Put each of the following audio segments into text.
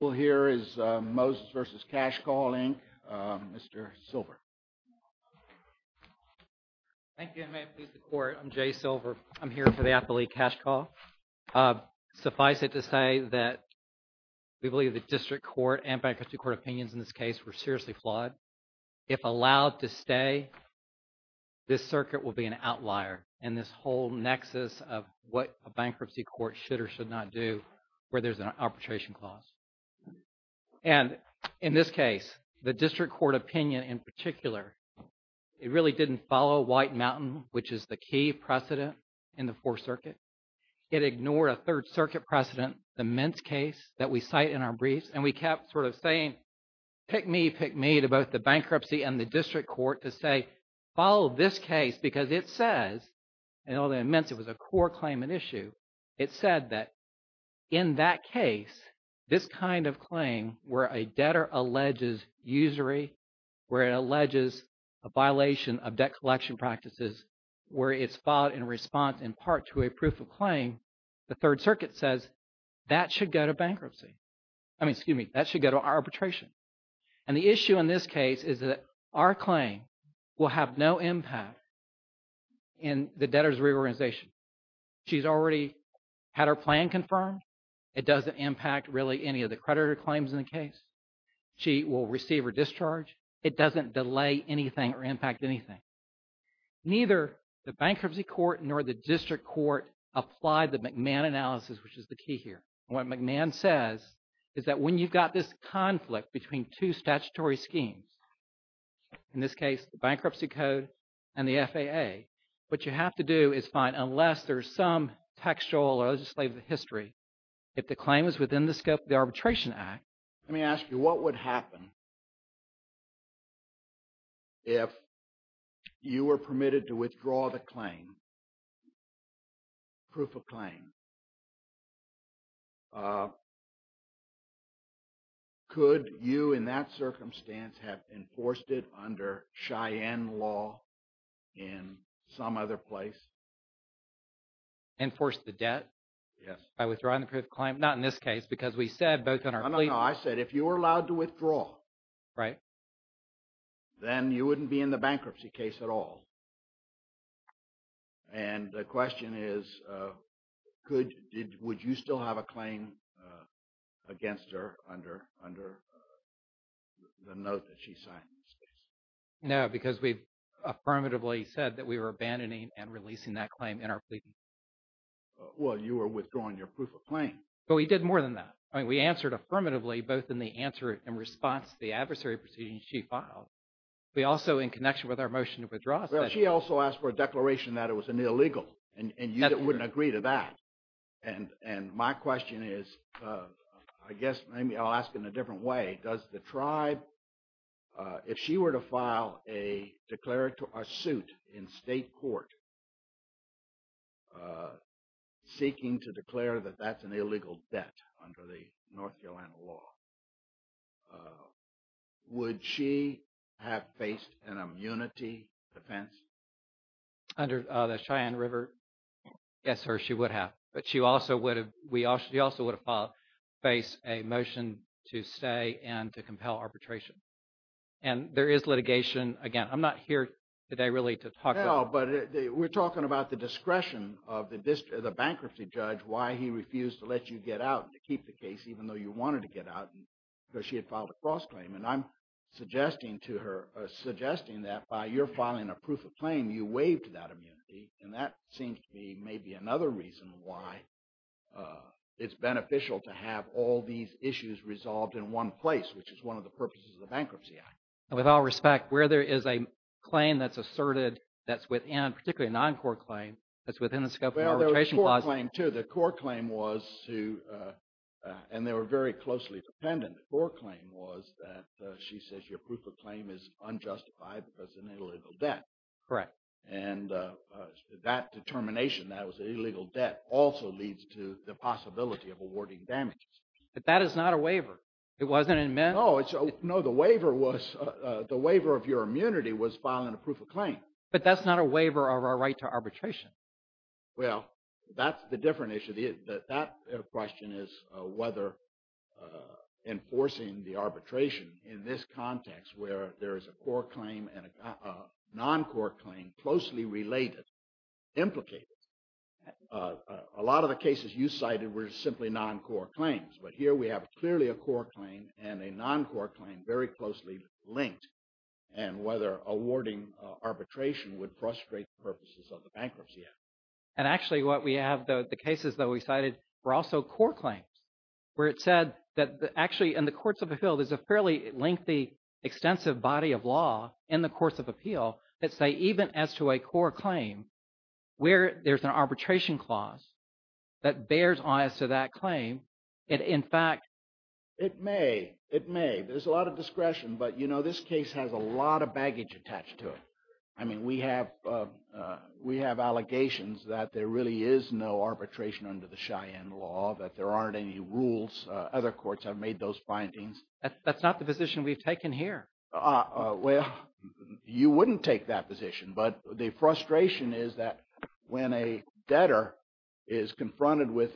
Well, here is Moses v. Cashcall, Inc., Mr. Silver. Thank you, and may it please the Court. I'm Jay Silver. I'm here for the affiliate Cashcall. Suffice it to say that we believe that district court and bankruptcy court opinions in this case were seriously flawed. If allowed to stay, this circuit will be an outlier in this whole nexus of what a bankruptcy court should or should not do where there's an arbitration clause. And in this case, the district court opinion in particular, it really didn't follow White Mountain, which is the key precedent in the Fourth Circuit. It ignored a Third Circuit precedent, the Mintz case, that we cite in our briefs. And we kept sort of saying, pick me, pick me, to both the bankruptcy and the district court to say, follow this case because it says, and although in Mintz it was a core claimant issue, it said that in that case, this kind of claim where a debtor alleges usury, where it alleges a violation of debt collection practices, where it's filed in response in part to a proof of claim, the Third Circuit says that should go to bankruptcy. I mean, excuse me, that should go to arbitration. And the issue in this case is that our claim will have no impact in the debtor's reorganization. She's already had her plan confirmed. It doesn't impact really any of the creditor claims in the case. She will receive her discharge. It doesn't delay anything or impact anything. Neither the bankruptcy court nor the district court applied the McMahon analysis, which is the key here. What McMahon says is that when you've got this conflict between two statutory schemes, in this case, the bankruptcy code and the FAA, what you have to do is find unless there's some textual or legislative history, if the claim is within the scope of the Arbitration Act. Let me ask you, what would happen if you were permitted to withdraw the claim, proof of claim? Could you, in that circumstance, have enforced it under Cheyenne law in some other place? Enforce the debt? Yes. By withdrawing the proof of claim? Not in this case, because we said both in our plea. No, no, no. I said if you were allowed to withdraw. Right. Then you wouldn't be in the bankruptcy case at all. And the question is, would you still have a claim against her under the note that she signed in this case? No, because we affirmatively said that we were abandoning and releasing that claim in our plea. Well, you were withdrawing your proof of claim. But we did more than that. I mean, we answered affirmatively both in the answer in response to the adversary proceedings she filed, but also in connection with our motion to withdraw. Well, she also asked for a declaration that it was an illegal, and you wouldn't agree to that. And my question is, I guess maybe I'll ask in a different way. Does the tribe – if she were to file a suit in state court seeking to declare that that's an illegal debt under the North Carolina law, would she have faced an immunity defense? Under the Cheyenne River, yes, sir, she would have. But she also would have filed – faced a motion to stay and to compel arbitration. And there is litigation. Again, I'm not here today really to talk about – No, but we're talking about the discretion of the bankruptcy judge, why he refused to let you get out and to keep the case even though you wanted to get out because she had filed a false claim. And I'm suggesting to her – suggesting that by your filing a proof of claim, you waived that immunity. And that seems to be maybe another reason why it's beneficial to have all these issues resolved in one place, which is one of the purposes of the Bankruptcy Act. With all respect, where there is a claim that's asserted that's within, particularly a non-court claim, that's within the scope of the arbitration clause – She says your proof of claim is unjustified because it's an illegal debt. Correct. And that determination that it was an illegal debt also leads to the possibility of awarding damages. But that is not a waiver. It wasn't in – No, it's – no, the waiver was – the waiver of your immunity was filing a proof of claim. But that's not a waiver of our right to arbitration. Well, that's the different issue. That question is whether enforcing the arbitration in this context where there is a court claim and a non-court claim closely related, implicated. A lot of the cases you cited were simply non-court claims. But here we have clearly a court claim and a non-court claim very closely linked, and whether awarding arbitration would frustrate the purposes of the Bankruptcy Act. And actually what we have, the cases that we cited were also court claims, where it said that actually in the courts of appeal, there's a fairly lengthy, extensive body of law in the courts of appeal that say even as to a court claim, where there's an arbitration clause that bears on us to that claim, it in fact – There really is no arbitration under the Cheyenne law, that there aren't any rules. Other courts have made those findings. That's not the position we've taken here. Well, you wouldn't take that position. But the frustration is that when a debtor is confronted with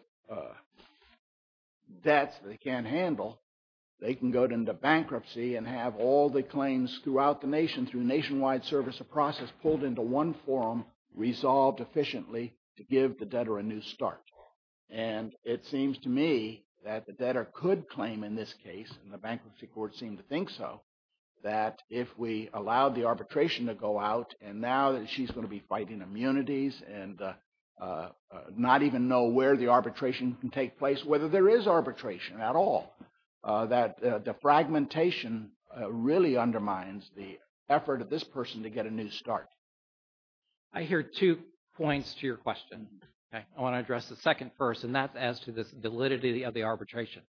debts they can't handle, they can go into bankruptcy and have all the claims throughout the nation through nationwide service of process pulled into one forum, resolved efficiently to give the debtor a new start. And it seems to me that the debtor could claim in this case, and the bankruptcy court seemed to think so, that if we allow the arbitration to go out and now that she's going to be fighting immunities and not even know where the arbitration can take place, whether there is arbitration at all, that the fragmentation really undermines the effort of this person to get a new start. I hear two points to your question. I want to address the second first, and that's as to this validity of the arbitration,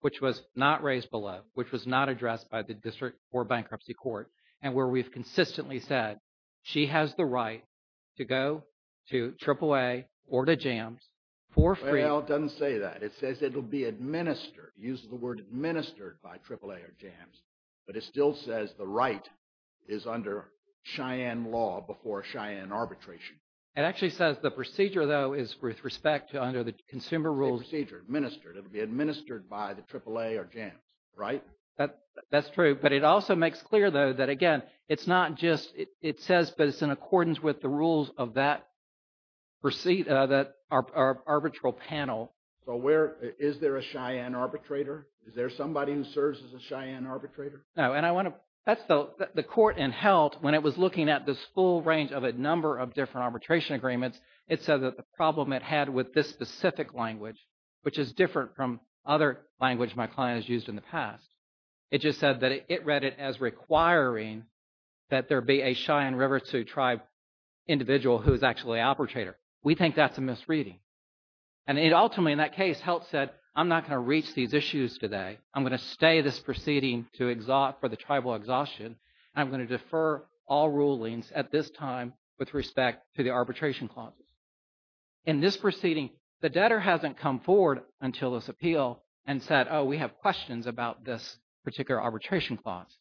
which was not raised below, which was not addressed by the district or bankruptcy court, and where we've consistently said she has the right to go to AAA or to JAMS for free. Well, it doesn't say that. It says it will be administered. It uses the word administered by AAA or JAMS. But it still says the right is under Cheyenne law before Cheyenne arbitration. It actually says the procedure, though, is with respect to under the consumer rules. Procedure, administered. It will be administered by the AAA or JAMS, right? That's true. But it also makes clear, though, that, again, it's not just – it says, but it's in accordance with the rules of that arbitral panel. So where – is there a Cheyenne arbitrator? Is there somebody who serves as a Cheyenne arbitrator? No, and I want to – that's the – the court in HELT, when it was looking at this full range of a number of different arbitration agreements, it said that the problem it had with this specific language, which is different from other language my client has used in the past, it just said that it read it as requiring that there be a Cheyenne River Sioux Tribe individual who is actually an arbitrator. We think that's a misreading. And it ultimately, in that case, HELT said, I'm not going to reach these issues today. I'm going to stay this proceeding to – for the tribal exhaustion. I'm going to defer all rulings at this time with respect to the arbitration clauses. In this proceeding, the debtor hasn't come forward until this appeal and said, oh, we have questions about this particular arbitration clause.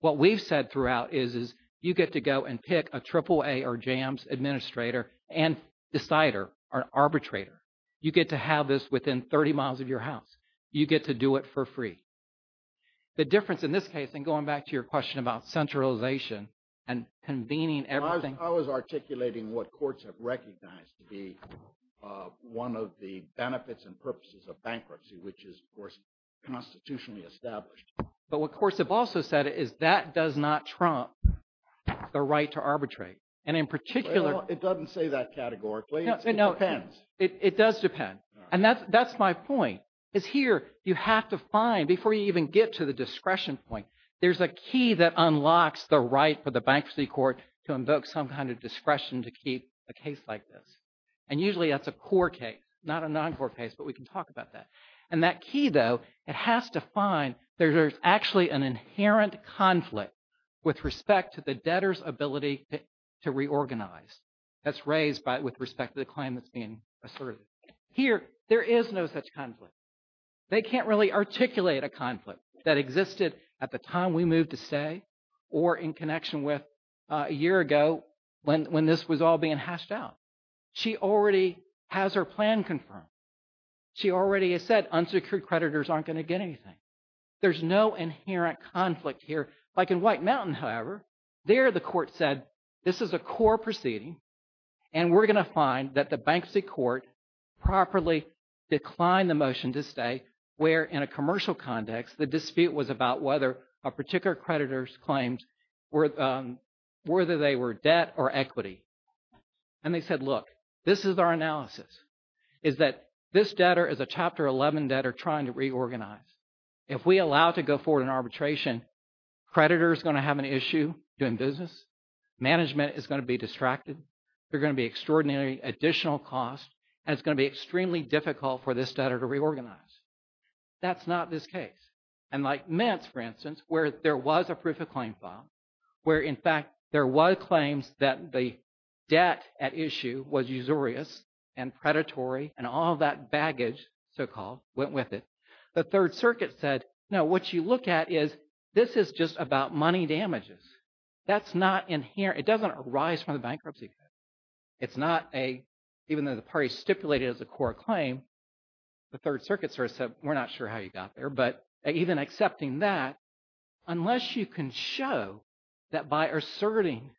What we've said throughout is you get to go and pick a AAA or JAMS administrator and decider or arbitrator. You get to have this within 30 miles of your house. You get to do it for free. The difference in this case, and going back to your question about centralization and convening everything. I was articulating what courts have recognized to be one of the benefits and purposes of bankruptcy, which is, of course, constitutionally established. But what courts have also said is that does not trump the right to arbitrate. And in particular – Well, it doesn't say that categorically. It depends. It does depend. And that's my point, is here you have to find, before you even get to the discretion point, there's a key that unlocks the right for the bankruptcy court to invoke some kind of discretion to keep a case like this. And usually that's a core case, not a non-core case, but we can talk about that. And that key, though, it has to find there's actually an inherent conflict with respect to the debtor's ability to reorganize. That's raised with respect to the claim that's being asserted. Here, there is no such conflict. They can't really articulate a conflict that existed at the time we moved to stay or in connection with a year ago when this was all being hashed out. She already has her plan confirmed. She already has said unsecured creditors aren't going to get anything. There's no inherent conflict here. Like in White Mountain, however, there the court said this is a core proceeding. And we're going to find that the bankruptcy court properly declined the motion to stay where, in a commercial context, the dispute was about whether a particular creditor's claims were – whether they were debt or equity. And they said, look, this is our analysis, is that this debtor is a Chapter 11 debtor trying to reorganize. If we allow it to go forward in arbitration, creditor is going to have an issue doing business. Management is going to be distracted. There are going to be extraordinary additional costs and it's going to be extremely difficult for this debtor to reorganize. That's not this case. And like Metz, for instance, where there was a proof of claim file, where in fact there were claims that the debt at issue was usurious and predatory and all that baggage, so-called, went with it. The Third Circuit said, no, what you look at is this is just about money damages. That's not inherent. It doesn't arise from the bankruptcy case. It's not a – even though the party stipulated it as a core claim, the Third Circuit sort of said, we're not sure how you got there. But even accepting that, unless you can show that by asserting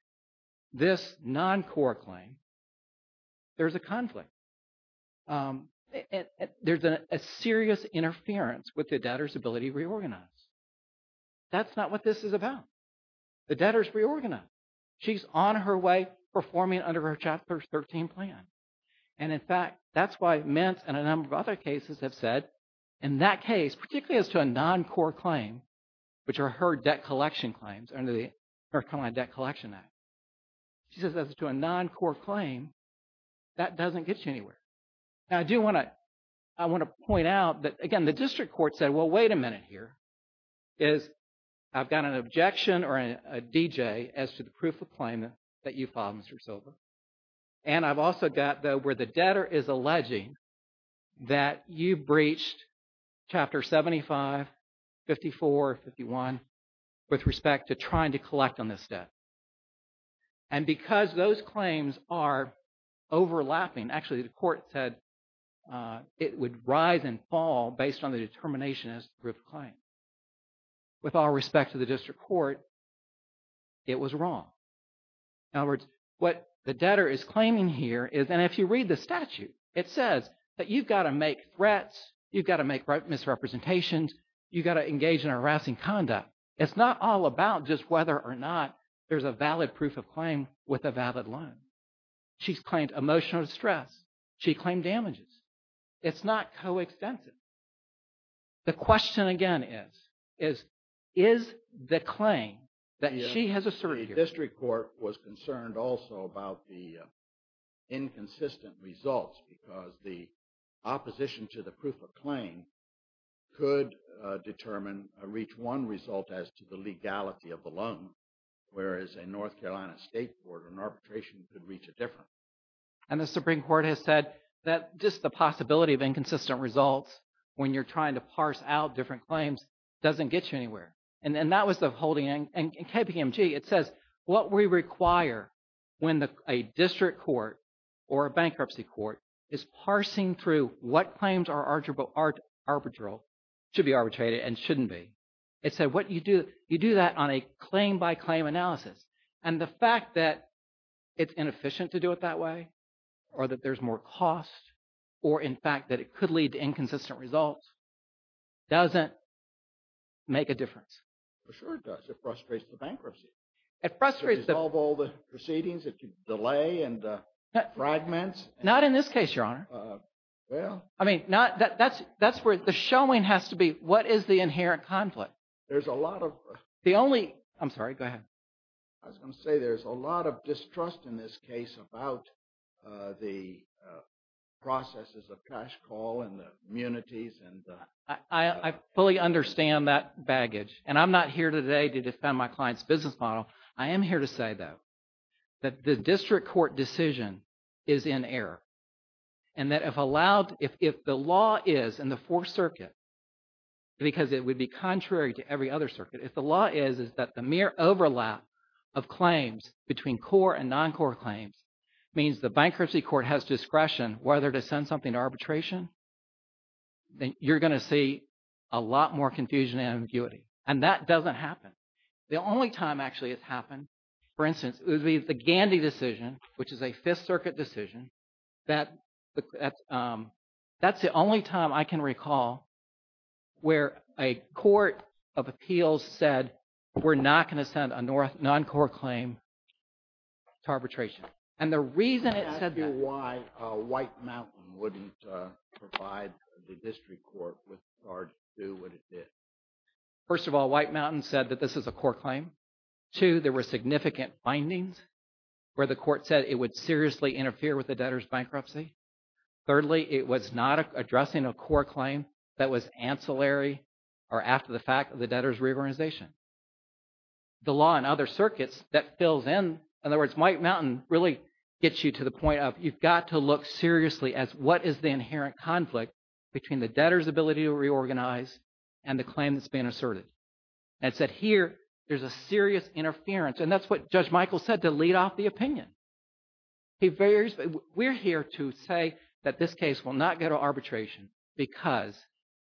this non-core claim, there's a conflict, there's a serious interference with the debtor's ability to reorganize. That's not what this is about. The debtor is reorganized. She's on her way performing under her Chapter 13 plan. And in fact, that's why Metz and a number of other cases have said, in that case, particularly as to a non-core claim, which are her debt collection claims under the North Carolina Debt Collection Act. She says as to a non-core claim, that doesn't get you anywhere. Now, I do want to – I want to point out that, again, the district court said, well, wait a minute here, is I've got an objection or a DJ as to the proof of claim that you filed, Mr. Silva. And I've also got, though, where the debtor is alleging that you breached Chapter 75, 54, 51 with respect to trying to collect on this debt. And because those claims are overlapping, actually the court said it would rise and fall based on the determination as proof of claim. With all respect to the district court, it was wrong. In other words, what the debtor is claiming here is – and if you read the statute, it says that you've got to make threats, you've got to make misrepresentations, you've got to engage in harassing conduct. It's not all about just whether or not there's a valid proof of claim with a valid loan. She's claimed emotional distress. She claimed damages. It's not coextensive. The question, again, is, is the claim that she has asserted here – The district court was concerned also about the inconsistent results because the opposition to the proof of claim could determine or reach one result as to the legality of the loan, whereas a North Carolina state court or an arbitration could reach a different. And the Supreme Court has said that just the possibility of inconsistent results when you're trying to parse out different claims doesn't get you anywhere. And that was the holding – and KPMG, it says what we require when a district court or a bankruptcy court is parsing through what claims are arbitral, should be arbitrated and shouldn't be. It said what you do – you do that on a claim-by-claim analysis. And the fact that it's inefficient to do it that way or that there's more cost or, in fact, that it could lead to inconsistent results doesn't make a difference. For sure it does. It frustrates the bankruptcy. It frustrates the – It dissolves all the proceedings. It delays and fragments. Not in this case, Your Honor. Well – I mean, not – that's where – the showing has to be what is the inherent conflict. There's a lot of – The only – I'm sorry, go ahead. I was going to say there's a lot of distrust in this case about the processes of cash call and the immunities and – I fully understand that baggage. And I'm not here today to defend my client's business model. I am here to say, though, that the district court decision is in error. And that if allowed – if the law is in the Fourth Circuit, because it would be contrary to every other circuit, if the law is that the mere overlap of claims between core and non-core claims means the bankruptcy court has discretion whether to send something to arbitration, then you're going to see a lot more confusion and ambiguity. And that doesn't happen. The only time actually it's happened, for instance, it would be the Gandy decision, which is a Fifth Circuit decision. That's the only time I can recall where a court of appeals said we're not going to send a non-core claim to arbitration. And the reason it said that – Can I ask you why White Mountain wouldn't provide the district court with – or do what it did? First of all, White Mountain said that this is a core claim. Two, there were significant findings where the court said it would seriously interfere with the debtor's bankruptcy. Thirdly, it was not addressing a core claim that was ancillary or after the fact of the debtor's reorganization. The law in other circuits that fills in – in other words, White Mountain really gets you to the point of you've got to look seriously as what is the inherent conflict between the debtor's ability to reorganize and the claim that's been asserted. And it said here there's a serious interference, and that's what Judge Michael said to lead off the opinion. We're here to say that this case will not go to arbitration because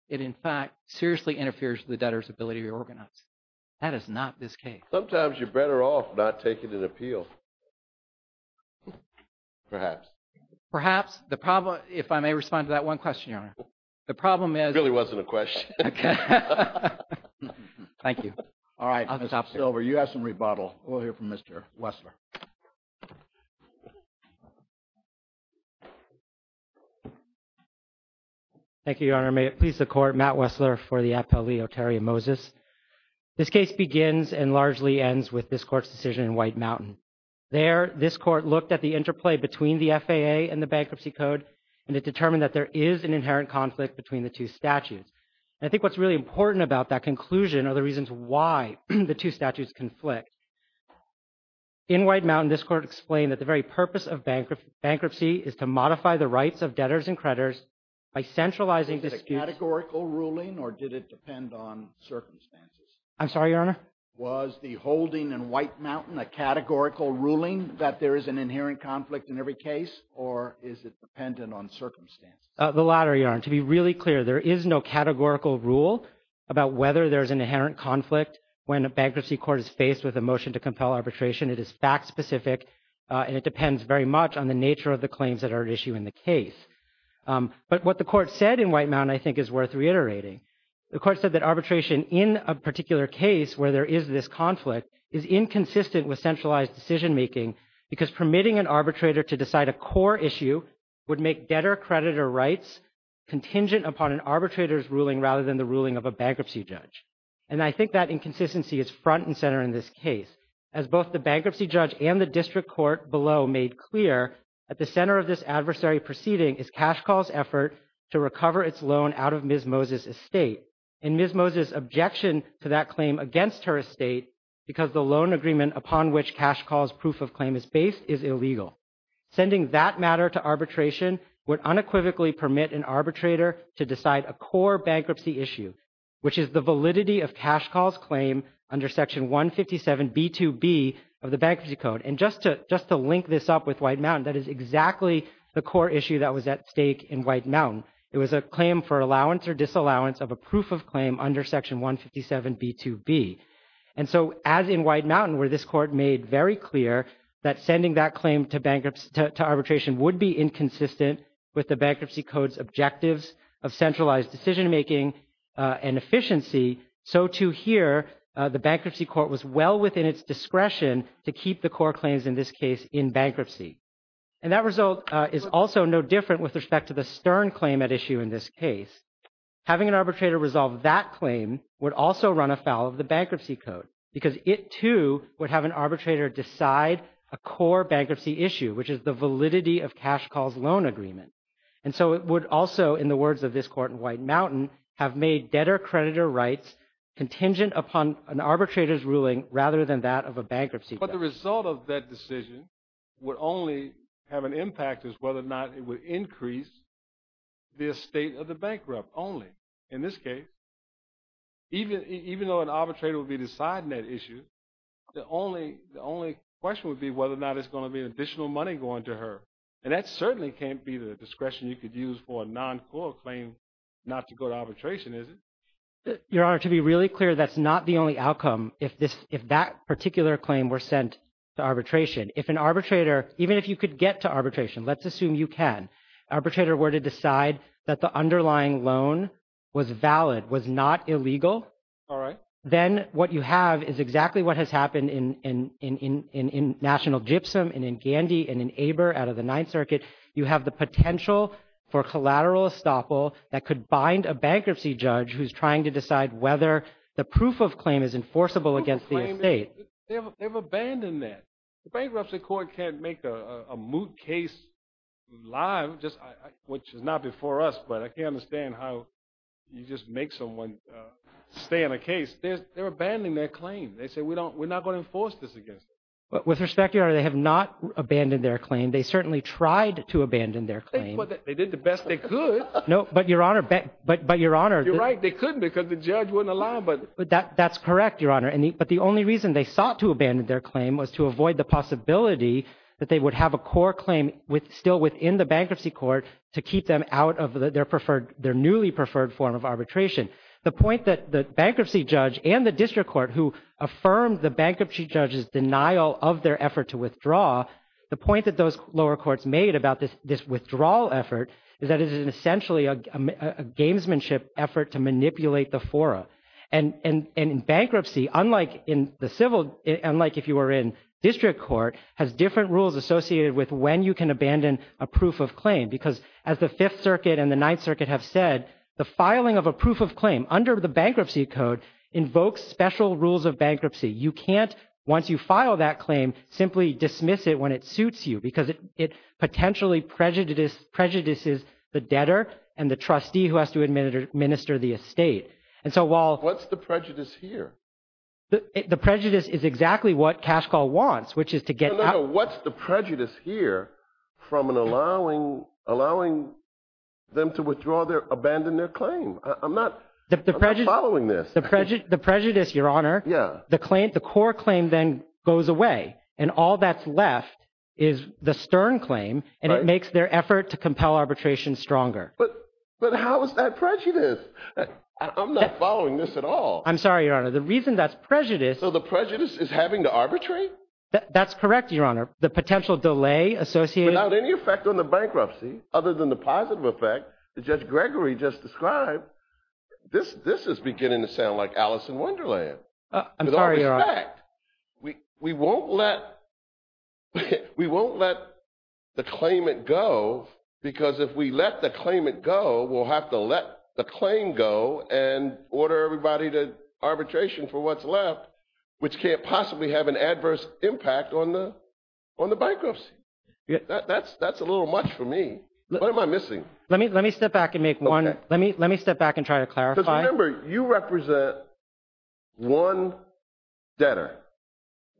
it in fact seriously interferes with the debtor's ability to reorganize. That is not this case. Sometimes you're better off not taking an appeal, perhaps. Perhaps. The problem – if I may respond to that one question, Your Honor. The problem is – It really wasn't a question. Thank you. All right, Mr. Silver, you have some rebuttal. We'll hear from Mr. Wessler. Thank you, Your Honor. May it please the Court, Matt Wessler for the appellee, Oterio Moses. This case begins and largely ends with this Court's decision in White Mountain. There, this Court looked at the interplay between the FAA and the Bankruptcy Code, and it determined that there is an inherent conflict between the two statutes. And I think what's really important about that conclusion are the reasons why the two statutes conflict. In White Mountain, this Court explained that the very purpose of bankruptcy is to modify the rights of debtors and creditors by centralizing – Was it a categorical ruling, or did it depend on circumstances? I'm sorry, Your Honor? Was the holding in White Mountain a categorical ruling that there is an inherent conflict in every case, or is it dependent on circumstances? The latter, Your Honor. To be really clear, there is no categorical rule about whether there is an inherent conflict when a bankruptcy court is faced with a motion to compel arbitration. It is fact-specific, and it depends very much on the nature of the claims that are at issue in the case. But what the Court said in White Mountain, I think, is worth reiterating. The Court said that arbitration in a particular case where there is this conflict is inconsistent with centralized decision-making because permitting an arbitrator to decide a core issue would make debtor-creditor rights contingent upon an arbitrator's ruling rather than the ruling of a bankruptcy judge. And I think that inconsistency is front and center in this case. As both the bankruptcy judge and the district court below made clear, at the center of this adversary proceeding is Cash Call's effort to recover its loan out of Ms. Moses' estate. And Ms. Moses' objection to that claim against her estate, because the loan agreement upon which Cash Call's proof of claim is based, is illegal. Sending that matter to arbitration would unequivocally permit an arbitrator to decide a core bankruptcy issue, which is the validity of Cash Call's claim under Section 157B2B of the Bankruptcy Code. And just to link this up with White Mountain, that is exactly the core issue that was at stake in White Mountain. It was a claim for allowance or disallowance of a proof of claim under Section 157B2B. And so as in White Mountain where this court made very clear that sending that claim to arbitration would be inconsistent with the Bankruptcy Code's objectives of centralized decision-making and efficiency, so too here the Bankruptcy Court was well within its discretion to keep the core claims in this case in bankruptcy. And that result is also no different with respect to the Stern claim at issue in this case. Having an arbitrator resolve that claim would also run afoul of the Bankruptcy Code, because it too would have an arbitrator decide a core bankruptcy issue, which is the validity of Cash Call's loan agreement. And so it would also, in the words of this court in White Mountain, have made debtor-creditor rights contingent upon an arbitrator's ruling rather than that of a bankruptcy. But the result of that decision would only have an impact as whether or not it would increase the estate of the bankrupt only. In this case, even though an arbitrator would be deciding that issue, the only question would be whether or not there's going to be additional money going to her. And that certainly can't be the discretion you could use for a non-core claim not to go to arbitration, is it? Your Honor, to be really clear, that's not the only outcome if that particular claim were sent to arbitration. If an arbitrator, even if you could get to arbitration, let's assume you can, arbitrator were to decide that the underlying loan was valid, was not illegal, then what you have is exactly what has happened in National Gypsum and in Gandy and in Eber out of the Ninth Circuit. You have the potential for collateral estoppel that could bind a bankruptcy judge who's trying to decide whether the proof of claim is enforceable against the estate. They've abandoned that. The Bankruptcy Court can't make a moot case live, which is not before us, but I can't understand how you just make someone stay in a case. They're abandoning their claim. They say, we're not going to enforce this against them. With respect, Your Honor, they have not abandoned their claim. They certainly tried to abandon their claim. They did the best they could. No, but Your Honor. You're right, they couldn't because the judge wouldn't allow it. That's correct, Your Honor. But the only reason they sought to abandon their claim was to avoid the possibility that they would have a core claim still within the Bankruptcy Court to keep them out of their newly preferred form of arbitration. The point that the bankruptcy judge and the district court who affirmed the bankruptcy judge's denial of their effort to withdraw, the point that those lower courts made about this withdrawal effort is that it is essentially a gamesmanship effort to manipulate the fora. And in bankruptcy, unlike if you were in district court, has different rules associated with when you can abandon a proof of claim. Because as the Fifth Circuit and the Ninth Circuit have said, the filing of a proof of claim under the Bankruptcy Code invokes special rules of bankruptcy. You can't, once you file that claim, simply dismiss it when it suits you. Because it potentially prejudices the debtor and the trustee who has to administer the estate. What's the prejudice here? The prejudice is exactly what Cash Call wants, which is to get… No, no, no. What's the prejudice here from allowing them to abandon their claim? I'm not following this. The prejudice, Your Honor, the core claim then goes away. And all that's left is the stern claim, and it makes their effort to compel arbitration stronger. But how is that prejudice? I'm not following this at all. I'm sorry, Your Honor. The reason that's prejudice… So the prejudice is having to arbitrate? That's correct, Your Honor. The potential delay associated… Without any effect on the bankruptcy, other than the positive effect that Judge Gregory just described, this is beginning to sound like Alice in Wonderland. I'm sorry, Your Honor. We won't let the claimant go, because if we let the claimant go, we'll have to let the claim go and order everybody to arbitration for what's left, which can't possibly have an adverse impact on the bankruptcy. That's a little much for me. What am I missing? Let me step back and try to clarify. Because remember, you represent one debtor,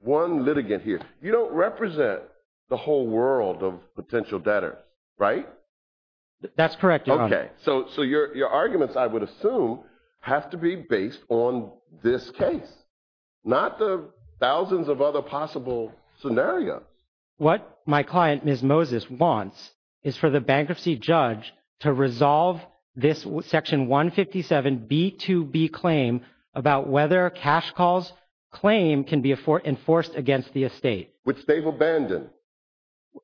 one litigant here. You don't represent the whole world of potential debtors, right? That's correct, Your Honor. Okay. So your arguments, I would assume, have to be based on this case, not the thousands of other possible scenarios. What my client, Ms. Moses, wants is for the bankruptcy judge to resolve this Section 157B2B claim about whether cash calls claim can be enforced against the estate. Which they've abandoned.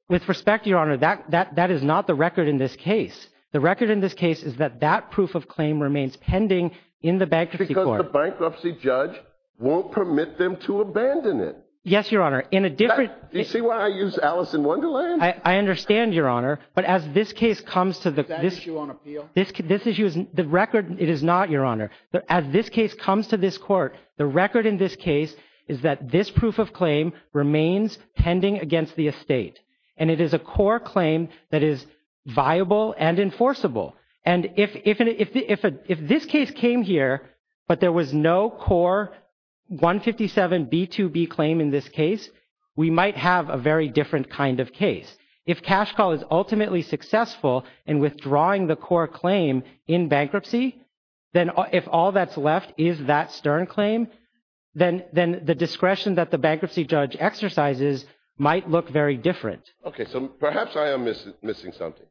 With respect, Your Honor, that is not the record in this case. The record in this case is that that proof of claim remains pending in the bankruptcy court. Because the bankruptcy judge won't permit them to abandon it. Yes, Your Honor. In a different… Do you see why I used Alice in Wonderland? I understand, Your Honor. But as this case comes to the… Is that issue on appeal? The record, it is not, Your Honor. As this case comes to this court, the record in this case is that this proof of claim remains pending against the estate. And it is a core claim that is viable and enforceable. And if this case came here, but there was no core 157B2B claim in this case, we might have a very different kind of case. If cash call is ultimately successful in withdrawing the core claim in bankruptcy, then if all that's left is that stern claim, then the discretion that the bankruptcy judge exercises might look very different. Okay, so perhaps I am missing something.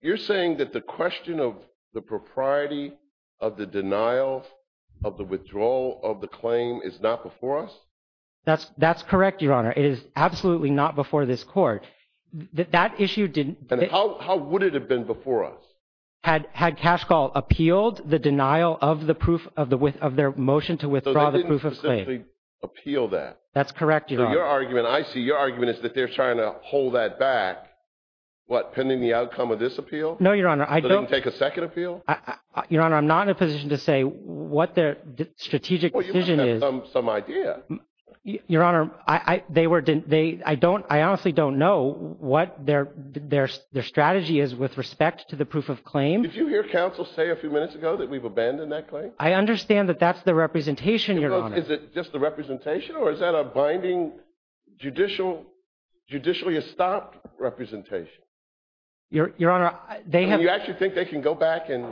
You're saying that the question of the propriety of the denial of the withdrawal of the claim is not before us? That's correct, Your Honor. It is absolutely not before this court. That issue didn't… And how would it have been before us? Had cash call appealed the denial of the proof of their motion to withdraw the proof of claim? So they didn't specifically appeal that? That's correct, Your Honor. So your argument, I see your argument is that they're trying to hold that back, what, pending the outcome of this appeal? No, Your Honor. I don't… So they can take a second appeal? Your Honor, I'm not in a position to say what their strategic decision is. I'm just trying to get some idea. Your Honor, I honestly don't know what their strategy is with respect to the proof of claim. Did you hear counsel say a few minutes ago that we've abandoned that claim? I understand that that's the representation, Your Honor. Is it just the representation, or is that a binding, judicially-estopped representation? Your Honor, they have… Do you actually think they can go back and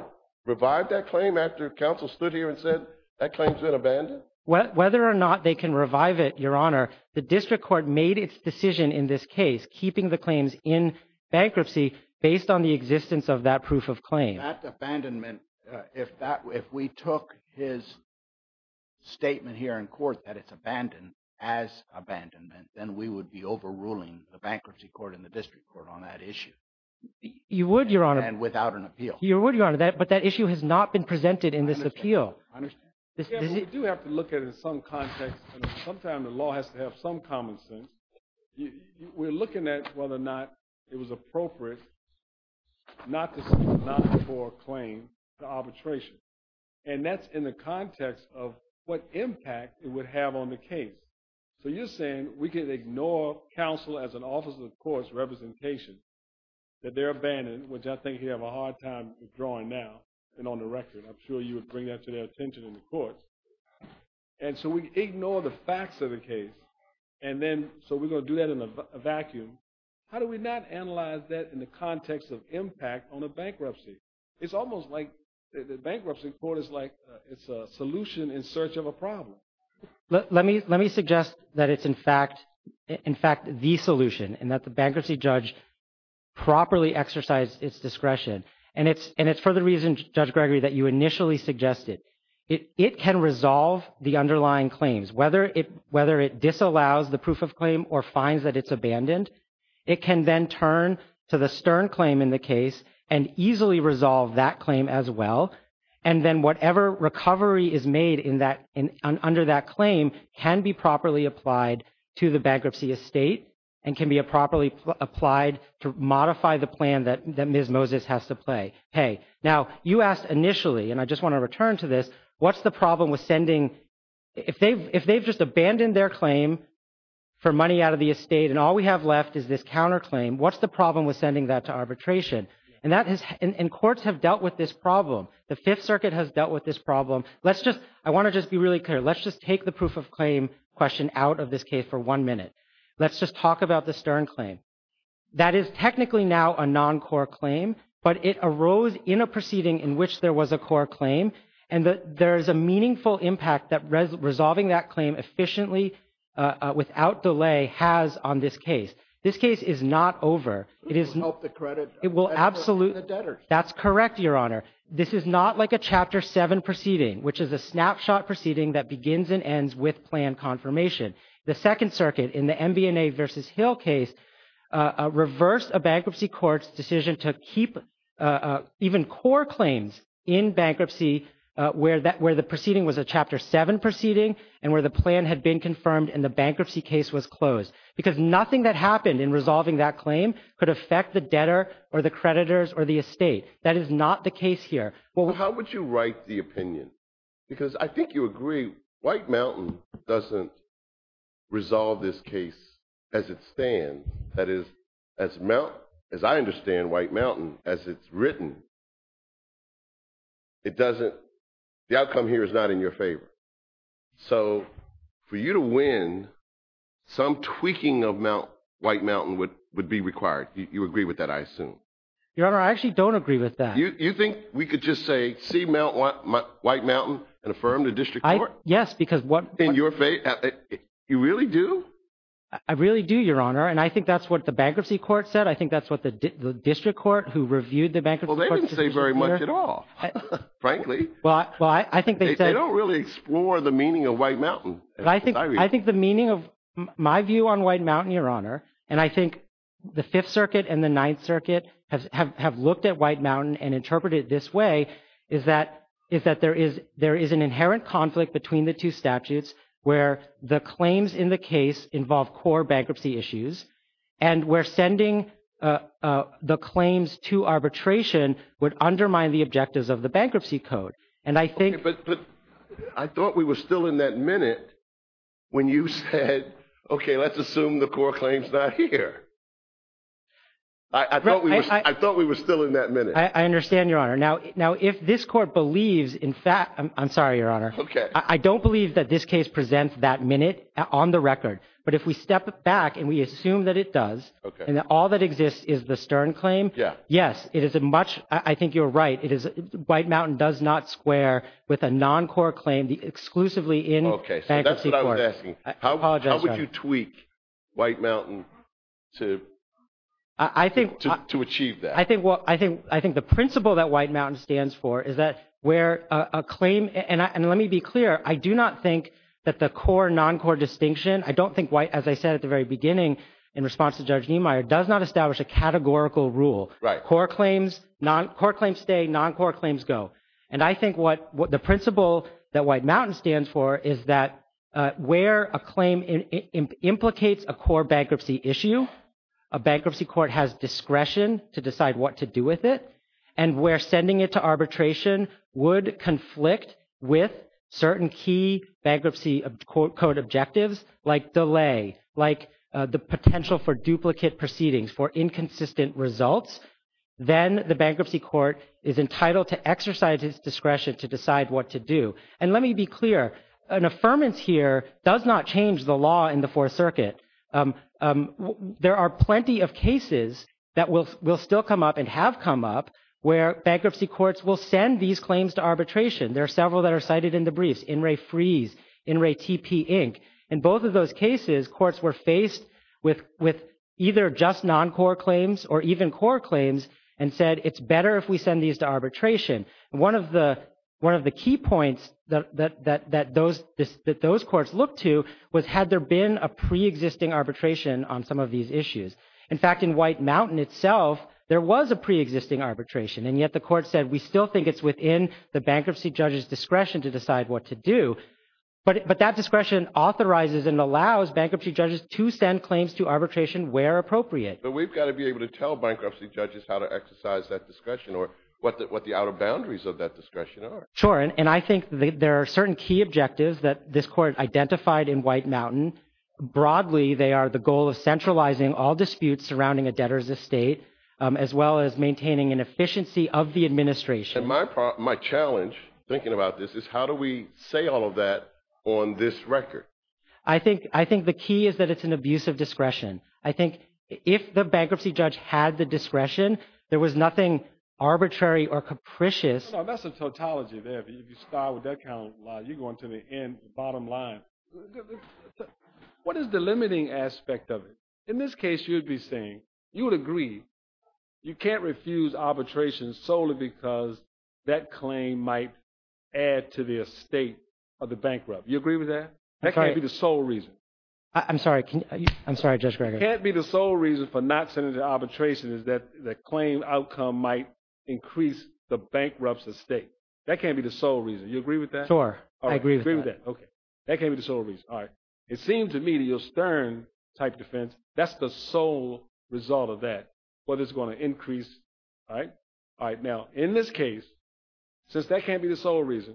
revive that claim after counsel stood here and said that claim's been abandoned? Whether or not they can revive it, Your Honor, the district court made its decision in this case, keeping the claims in bankruptcy based on the existence of that proof of claim. That abandonment, if we took his statement here in court that it's abandoned as abandonment, then we would be overruling the bankruptcy court and the district court on that issue. You would, Your Honor. And without an appeal. You would, Your Honor, but that issue has not been presented in this appeal. I understand. But in some context, sometimes the law has to have some common sense. We're looking at whether or not it was appropriate not to seek a non-deferred claim to arbitration. And that's in the context of what impact it would have on the case. So you're saying we could ignore counsel as an officer of the court's representation, that they're abandoned, which I think he'd have a hard time withdrawing now and on the record. I'm sure you would bring that to their attention in the courts. And so we ignore the facts of the case. And then, so we're going to do that in a vacuum. How do we not analyze that in the context of impact on a bankruptcy? It's almost like the bankruptcy court is like it's a solution in search of a problem. Let me suggest that it's in fact the solution and that the bankruptcy judge properly exercised its discretion. And it's for the reason, Judge Gregory, that you initially suggested. It can resolve the underlying claims, whether it disallows the proof of claim or finds that it's abandoned. It can then turn to the stern claim in the case and easily resolve that claim as well. And then whatever recovery is made under that claim can be properly applied to the bankruptcy estate and can be properly applied to modify the plan that Ms. Moses has to play. Hey, now you asked initially and I just want to return to this. What's the problem with sending if they've just abandoned their claim for money out of the estate and all we have left is this counterclaim. What's the problem with sending that to arbitration? And courts have dealt with this problem. The Fifth Circuit has dealt with this problem. Let's just I want to just be really clear. Let's just take the proof of claim question out of this case for one minute. Let's just talk about the stern claim. That is technically now a non-core claim, but it arose in a proceeding in which there was a core claim. And there is a meaningful impact that resolving that claim efficiently without delay has on this case. This case is not over. It will absolutely. That's correct, Your Honor. This is not like a Chapter 7 proceeding, which is a snapshot proceeding that begins and ends with plan confirmation. The Second Circuit in the MBNA v. Hill case reversed a bankruptcy court's decision to keep even core claims in bankruptcy where the proceeding was a Chapter 7 proceeding and where the plan had been confirmed and the bankruptcy case was closed. Because nothing that happened in resolving that claim could affect the debtor or the creditors or the estate. That is not the case here. How would you write the opinion? Because I think you agree White Mountain doesn't resolve this case as it stands. That is, as I understand White Mountain, as it's written, the outcome here is not in your favor. So for you to win, some tweaking of White Mountain would be required. You agree with that, I assume? Your Honor, I actually don't agree with that. Did you just say see White Mountain and affirm the district court? Yes, because what… In your faith, you really do? I really do, Your Honor, and I think that's what the bankruptcy court said. I think that's what the district court who reviewed the bankruptcy court's decision here… Well, they didn't say very much at all, frankly. Well, I think they said… They don't really explore the meaning of White Mountain. I think the meaning of my view on White Mountain, Your Honor, and I think the Fifth Circuit and the Ninth Circuit have looked at White Mountain and interpreted it this way, is that there is an inherent conflict between the two statutes where the claims in the case involve core bankruptcy issues and where sending the claims to arbitration would undermine the objectives of the bankruptcy code. But I thought we were still in that minute when you said, okay, let's assume the core claim's not here. I thought we were still in that minute. I understand, Your Honor. Now, if this court believes… I'm sorry, Your Honor. I don't believe that this case presents that minute on the record, but if we step back and we assume that it does, and that all that exists is the Stern claim, yes, it is a much… I think you're right. …with a non-core claim exclusively in bankruptcy court. Okay, so that's what I was asking. I apologize, Your Honor. How would you tweak White Mountain to achieve that? I think the principle that White Mountain stands for is that where a claim… and let me be clear, I do not think that the core-non-core distinction, I don't think White, as I said at the very beginning in response to Judge Niemeyer, does not establish a categorical rule. Right. Core claims stay, non-core claims go. I think what the principle that White Mountain stands for is that where a claim implicates a core bankruptcy issue, a bankruptcy court has discretion to decide what to do with it, and where sending it to arbitration would conflict with certain key bankruptcy code objectives like delay, like the potential for duplicate proceedings, for inconsistent results, then the bankruptcy court is entitled to exercise its discretion to decide what to do. And let me be clear. An affirmance here does not change the law in the Fourth Circuit. There are plenty of cases that will still come up and have come up where bankruptcy courts will send these claims to arbitration. There are several that are cited in the briefs, In Re Freeze, In Re TP Inc. In both of those cases, courts were faced with either just non-core claims or even core claims and said it's better if we send these to arbitration. One of the key points that those courts looked to was had there been a pre-existing arbitration on some of these issues. In fact, in White Mountain itself, there was a pre-existing arbitration, and yet the court said we still think it's within the bankruptcy judge's discretion to decide what to do. But that discretion authorizes and allows bankruptcy judges to send claims to arbitration where appropriate. But we've got to be able to tell bankruptcy judges how to exercise that discretion or what the outer boundaries of that discretion are. Sure, and I think there are certain key objectives that this court identified in White Mountain. Broadly, they are the goal of centralizing all disputes surrounding a debtor's estate as well as maintaining an efficiency of the administration. And my challenge, thinking about this, is how do we say all of that on this record? I think the key is that it's an abuse of discretion. I think if the bankruptcy judge had the discretion, there was nothing arbitrary or capricious. That's a tautology there. If you start with that kind of logic, you're going to the bottom line. What is the limiting aspect of it? In this case, you would be saying, you would agree, you can't refuse arbitration solely because that claim might add to the estate of the bankrupt. You agree with that? That can't be the sole reason. It can't be the sole reason for not sending the arbitration is that the claim outcome might increase the bankrupt's estate. That can't be the sole reason. You agree with that? Sure, I agree with that. That can't be the sole reason. It seems to me that your Stern type defense, that's the sole result of that, whether it's going to increase. Now, in this case, since that can't be the sole reason,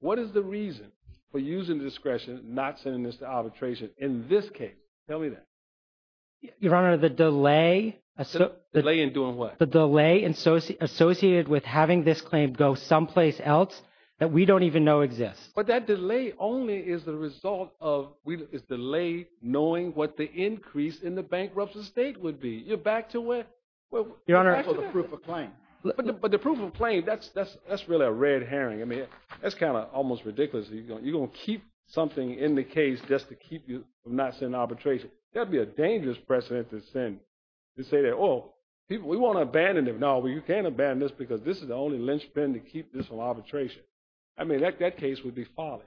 what is the reason for using discretion, not sending this to arbitration in this case? Tell me that. Your Honor, the delay. The delay in doing what? The delay associated with having this claim go someplace else that we don't even know exists. But that delay only is the result of, is delayed knowing what the increase in the bankrupt's estate would be. You're back to where? You're back to the proof of claim. But the proof of claim, that's really a red herring. That's kind of almost ridiculous. You're going to keep something in the case just to keep you from not sending it to arbitration. That would be a dangerous precedent to send. To say that, oh, we want to abandon it. No, you can't abandon this because this is the only linchpin to keep this from arbitration. I mean, that case would be folly.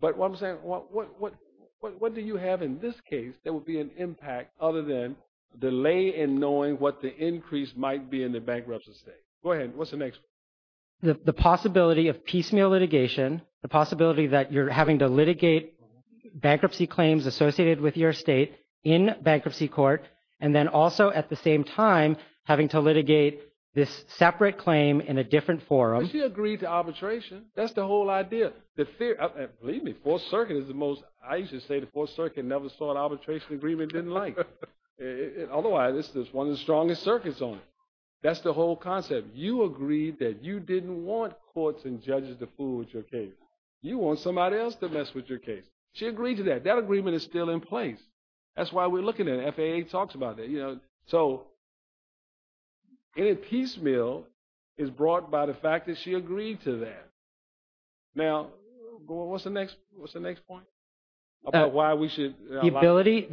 But what I'm saying, what do you have in this case that would be an impact other than delay in knowing what the increase might be in the bankrupt's estate? Go ahead, what's the next one? The possibility of piecemeal litigation. The possibility that you're having to litigate bankruptcy claims associated with your estate in bankruptcy court, and then also at the same time having to litigate this separate claim in a different forum. Well, she agreed to arbitration. That's the whole idea. Believe me, Fourth Circuit is the most, I used to say the Fourth Circuit never saw an arbitration agreement it didn't like. Otherwise, it's one of the strongest circuits on it. That's the whole concept. You agreed that you didn't want courts and judges to fool with your case. You want somebody else to mess with your case. She agreed to that. That agreement is still in place. That's why we're looking at it. FAA talks about that. So, any piecemeal is brought by the fact that she agreed to that. Now, what's the next point? About why we should... The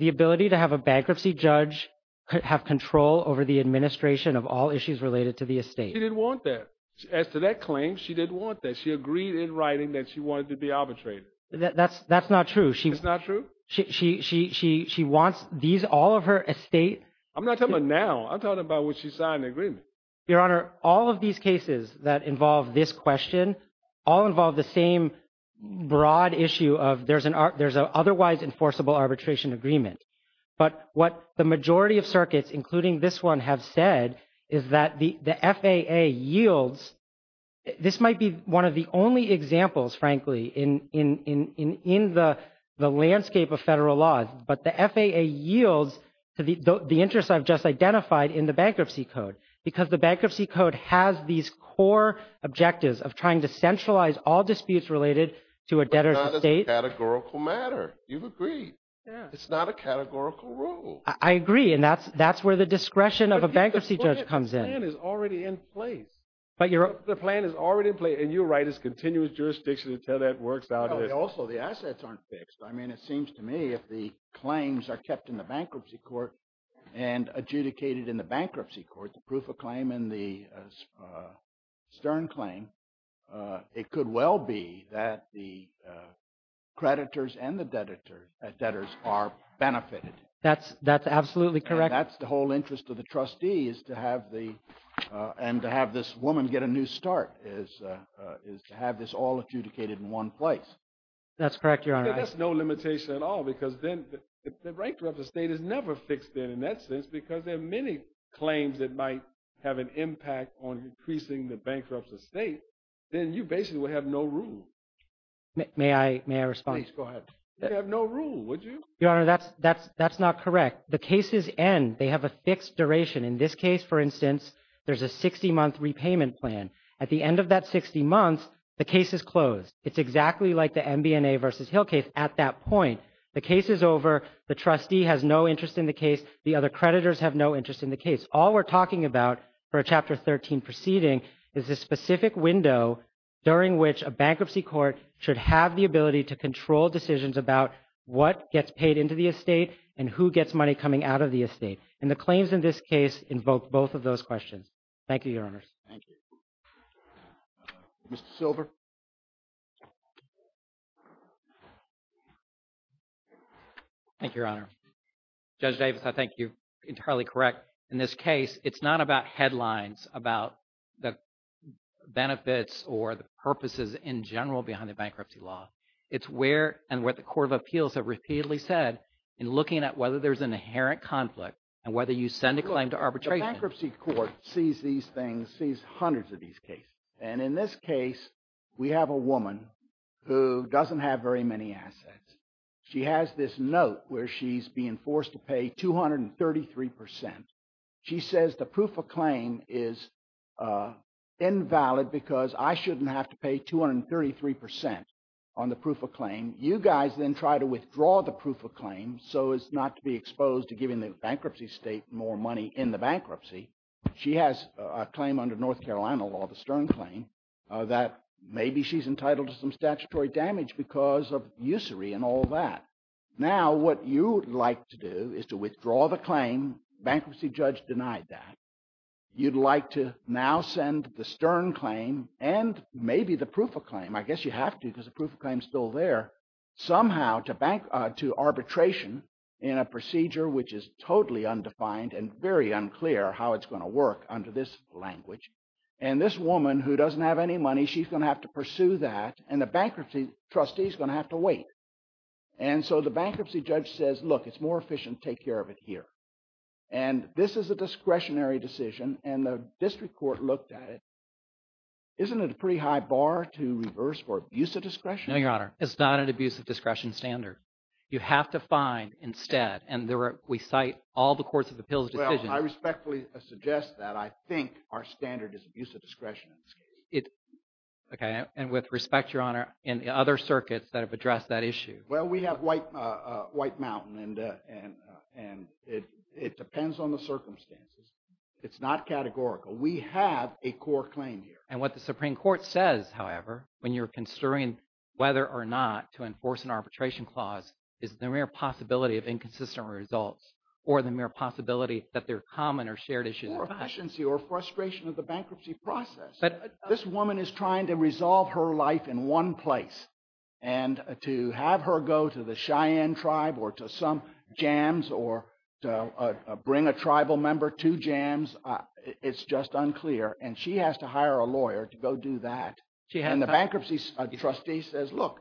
ability to have a bankruptcy judge have control over the administration of all issues related to the estate. She didn't want that. She agreed in writing that she wanted to be arbitrated. That's not true. It's not true? She wants all of her estate... I'm not talking about now. I'm talking about when she signed the agreement. Your Honor, all of these cases that involve this question all involve the same broad issue of there's an otherwise enforceable arbitration agreement. But what the majority of circuits including this one have said is that the FAA yields... There's only examples, frankly, in the landscape of federal law, but the FAA yields the interest I've just identified in the bankruptcy code because the bankruptcy code has these core objectives of trying to centralize all disputes related to a debtor's estate. But that's a categorical matter. You've agreed. It's not a categorical rule. I agree, and that's where the discretion of a bankruptcy judge comes in. It's a continuous jurisdiction until that works out. Also, the assets aren't fixed. I mean, it seems to me if the claims are kept in the bankruptcy court and adjudicated in the bankruptcy court, the proof of claim and the stern claim, it could well be that the creditors and the debtors are benefited. That's absolutely correct. That's the whole interest of the trustees to have this all adjudicated in one place. That's correct, Your Honor. That's no limitation at all because then the bankruptcy estate is never fixed in, in that sense, because there are many claims that might have an impact on increasing the bankruptcy estate. Then you basically would have no rule. May I respond? Please, go ahead. You'd have no rule, would you? Your Honor, that's not correct. The cases end. They have a fixed duration. The case is closed. It's exactly like the MBNA versus Hill case at that point. The case is over. The trustee has no interest in the case. The other creditors have no interest in the case. All we're talking about for a Chapter 13 proceeding is a specific window during which a bankruptcy court should have the ability to control decisions about what gets paid into the estate and who gets money coming out of the estate. And the claims in this case invoke both of those questions. Thank you, Your Honors. Thank you. Mr. Silver? Thank you, Your Honor. Judge Davis, I think you're entirely correct. In this case, it's not about headlines about the benefits or the purposes in general behind the bankruptcy law. It's where and what the Court of Appeals have repeatedly said in looking at whether there's an inherent conflict and whether you send a claim to arbitration. The bankruptcy court sees these things, sees hundreds of these cases. And in this case, we have a woman who doesn't have very many assets. She has this note where she's being forced to pay 233%. She says the proof of claim is invalid because I shouldn't have to pay 233% on the proof of claim. You guys then try to withdraw the proof of claim so as not to be exposed to giving the bankruptcy state more money in the bankruptcy. She has a claim under North Carolina law, the Stern claim, that maybe she's entitled to some statutory damage because of usury and all that. Now, what you would like to do is to withdraw the claim. Bankruptcy judge denied that. You'd like to now send the Stern claim and maybe the proof of claim. I guess you have to because the proof of claim is still there, somehow to arbitration in a procedure which is totally undefined and very unclear how it's going to work under this language. And this woman who doesn't have any money, she's going to have to pursue that and the bankruptcy trustee is going to have to wait. And so the bankruptcy judge says, look, it's more efficient to take care of it here. And this is a discretionary decision and the district court looked at it. Isn't it a pretty high bar to reverse for abuse of discretion? No, Your Honor. It's not an abuse of discretion standard. You have to find instead, and we cite all the courts of appeals decisions. Well, I respectfully suggest that I think our standard is abuse of discretion in this case. Okay. And with respect, Your Honor, in the other circuits that have addressed that issue. Well, we have White Mountain and it depends on the circumstances. It's not categorical. We have a core claim here. And what the Supreme Court says, however, when you're considering whether or not to enforce an arbitration clause is the mere possibility of inconsistent results or the mere possibility that they're common or shared issues. Or efficiency or frustration of the bankruptcy process. But this woman is trying to resolve her life in one place and to have her go to the Cheyenne tribe or to some jams or bring a tribal member to jams. It's just unclear. And she has to hire a lawyer to go do that. And the bankruptcy trustee says, look,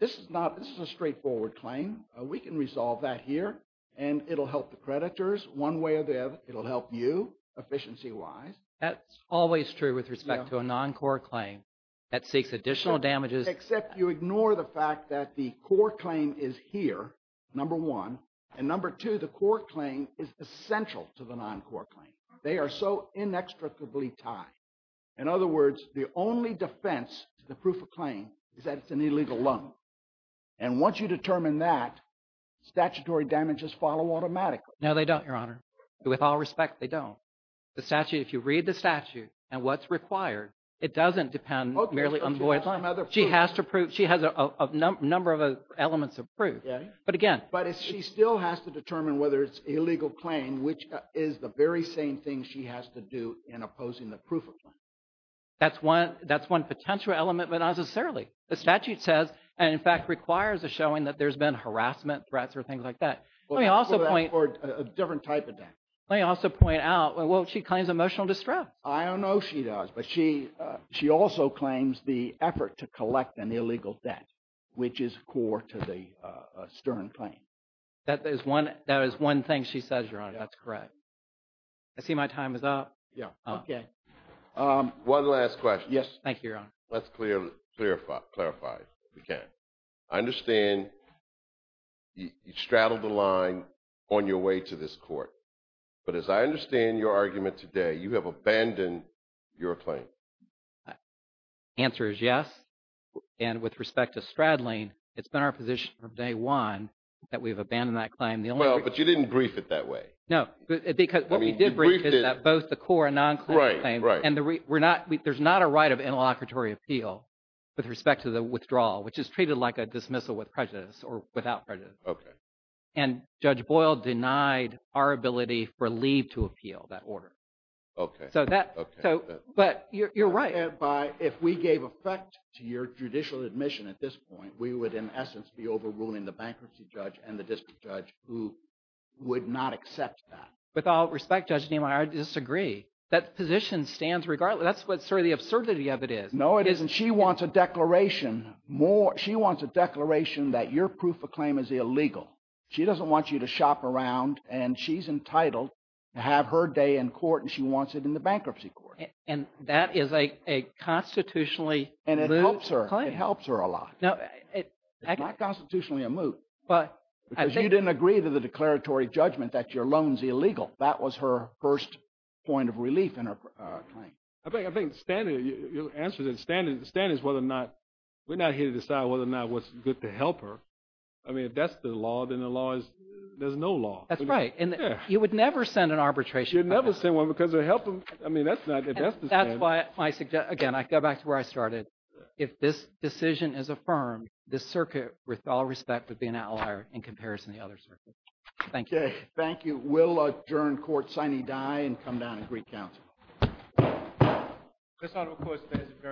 this is not, this is a straightforward claim. We can resolve that here and it'll help the creditors one way or the other. It'll help you efficiency wise. That's always true with respect to a non-core claim that seeks additional damages. Except you ignore the fact that the core claim is here. Number one. And number two, the core claim is essential to the non-core claim. They are so inextricably tied. In other words, the only defense to the proof of claim is that it's an illegal lump. And once you determine that, statutory damages follow automatically. No, they don't, Your Honor. With all respect, they don't. The statute, if you read the statute and what's required, it doesn't depend merely on the lawyer. She has to prove, she has a number of elements of proof. But again. But she still has to determine whether it's an illegal claim, which is the very same thing she has to do in opposing the proof of claim. That's one potential element, but not necessarily. The statute says, and in fact requires, a showing that there's been harassment threats or things like that. Let me also point. Or a different type of death. Let me also point out, well, she claims emotional distress. I don't know if she does, but she also claims the effort to collect an illegal debt, which is core to the Stern claim. That is one thing she says, Your Honor. That's correct. Okay. I see my time is up. Yeah. Okay. One last question. Yes. Thank you, Your Honor. Let's clarify, if we can. I understand you straddled the line on your way to this court. But as I understand your argument today, you have abandoned your claim. The answer is yes. And with respect to straddling, it's been our position from day one that we have abandoned that claim. Well, but you didn't brief it that way. No, because what we did brief is that both the core and non-claim and we're not, there's not a right of interlocutory appeal with respect to the withdrawal, which is treated like a dismissal with prejudice or without prejudice. Okay. And Judge Boyle denied our ability for leave to appeal that order. Okay. So that, but you're right. If we gave effect to your judicial admission at this point, we would in essence be overruling the bankruptcy judge and the district judge who would not accept that. With all respect, Judge Niemeyer, I disagree. That position stands regardless. That's what sort of the absurdity of it is. No, it isn't. She wants a declaration more, she wants a declaration that your proof of claim is illegal. She doesn't want you to shop around and she's entitled to have her day in court and she wants it in the bankruptcy court. And that is a constitutionally moot claim. And it helps her. It helps her a lot. It's not constitutionally a moot. Because you didn't agree to the declaratory judgment that your loan is illegal. That was her first point of relief in her claim. I think the standard, your answer is the standard is whether or not, we're not here to decide whether or not what's good to help her. I mean, if that's the law, then the law is, there's no law. That's right. And you would never send an arbitration. You'd never send one because it would help them. I mean, that's not, that's the standard. That's why I suggest, again, I go back to where I started. If this decision is affirmed, this circuit, with all respect, would be an outlier in comparison to the other circuits. Thank you. Thank you. We'll adjourn court, signee die, and come down and greet counsel. stands adjourned, signee die. Godspeed to the United States and this item of court.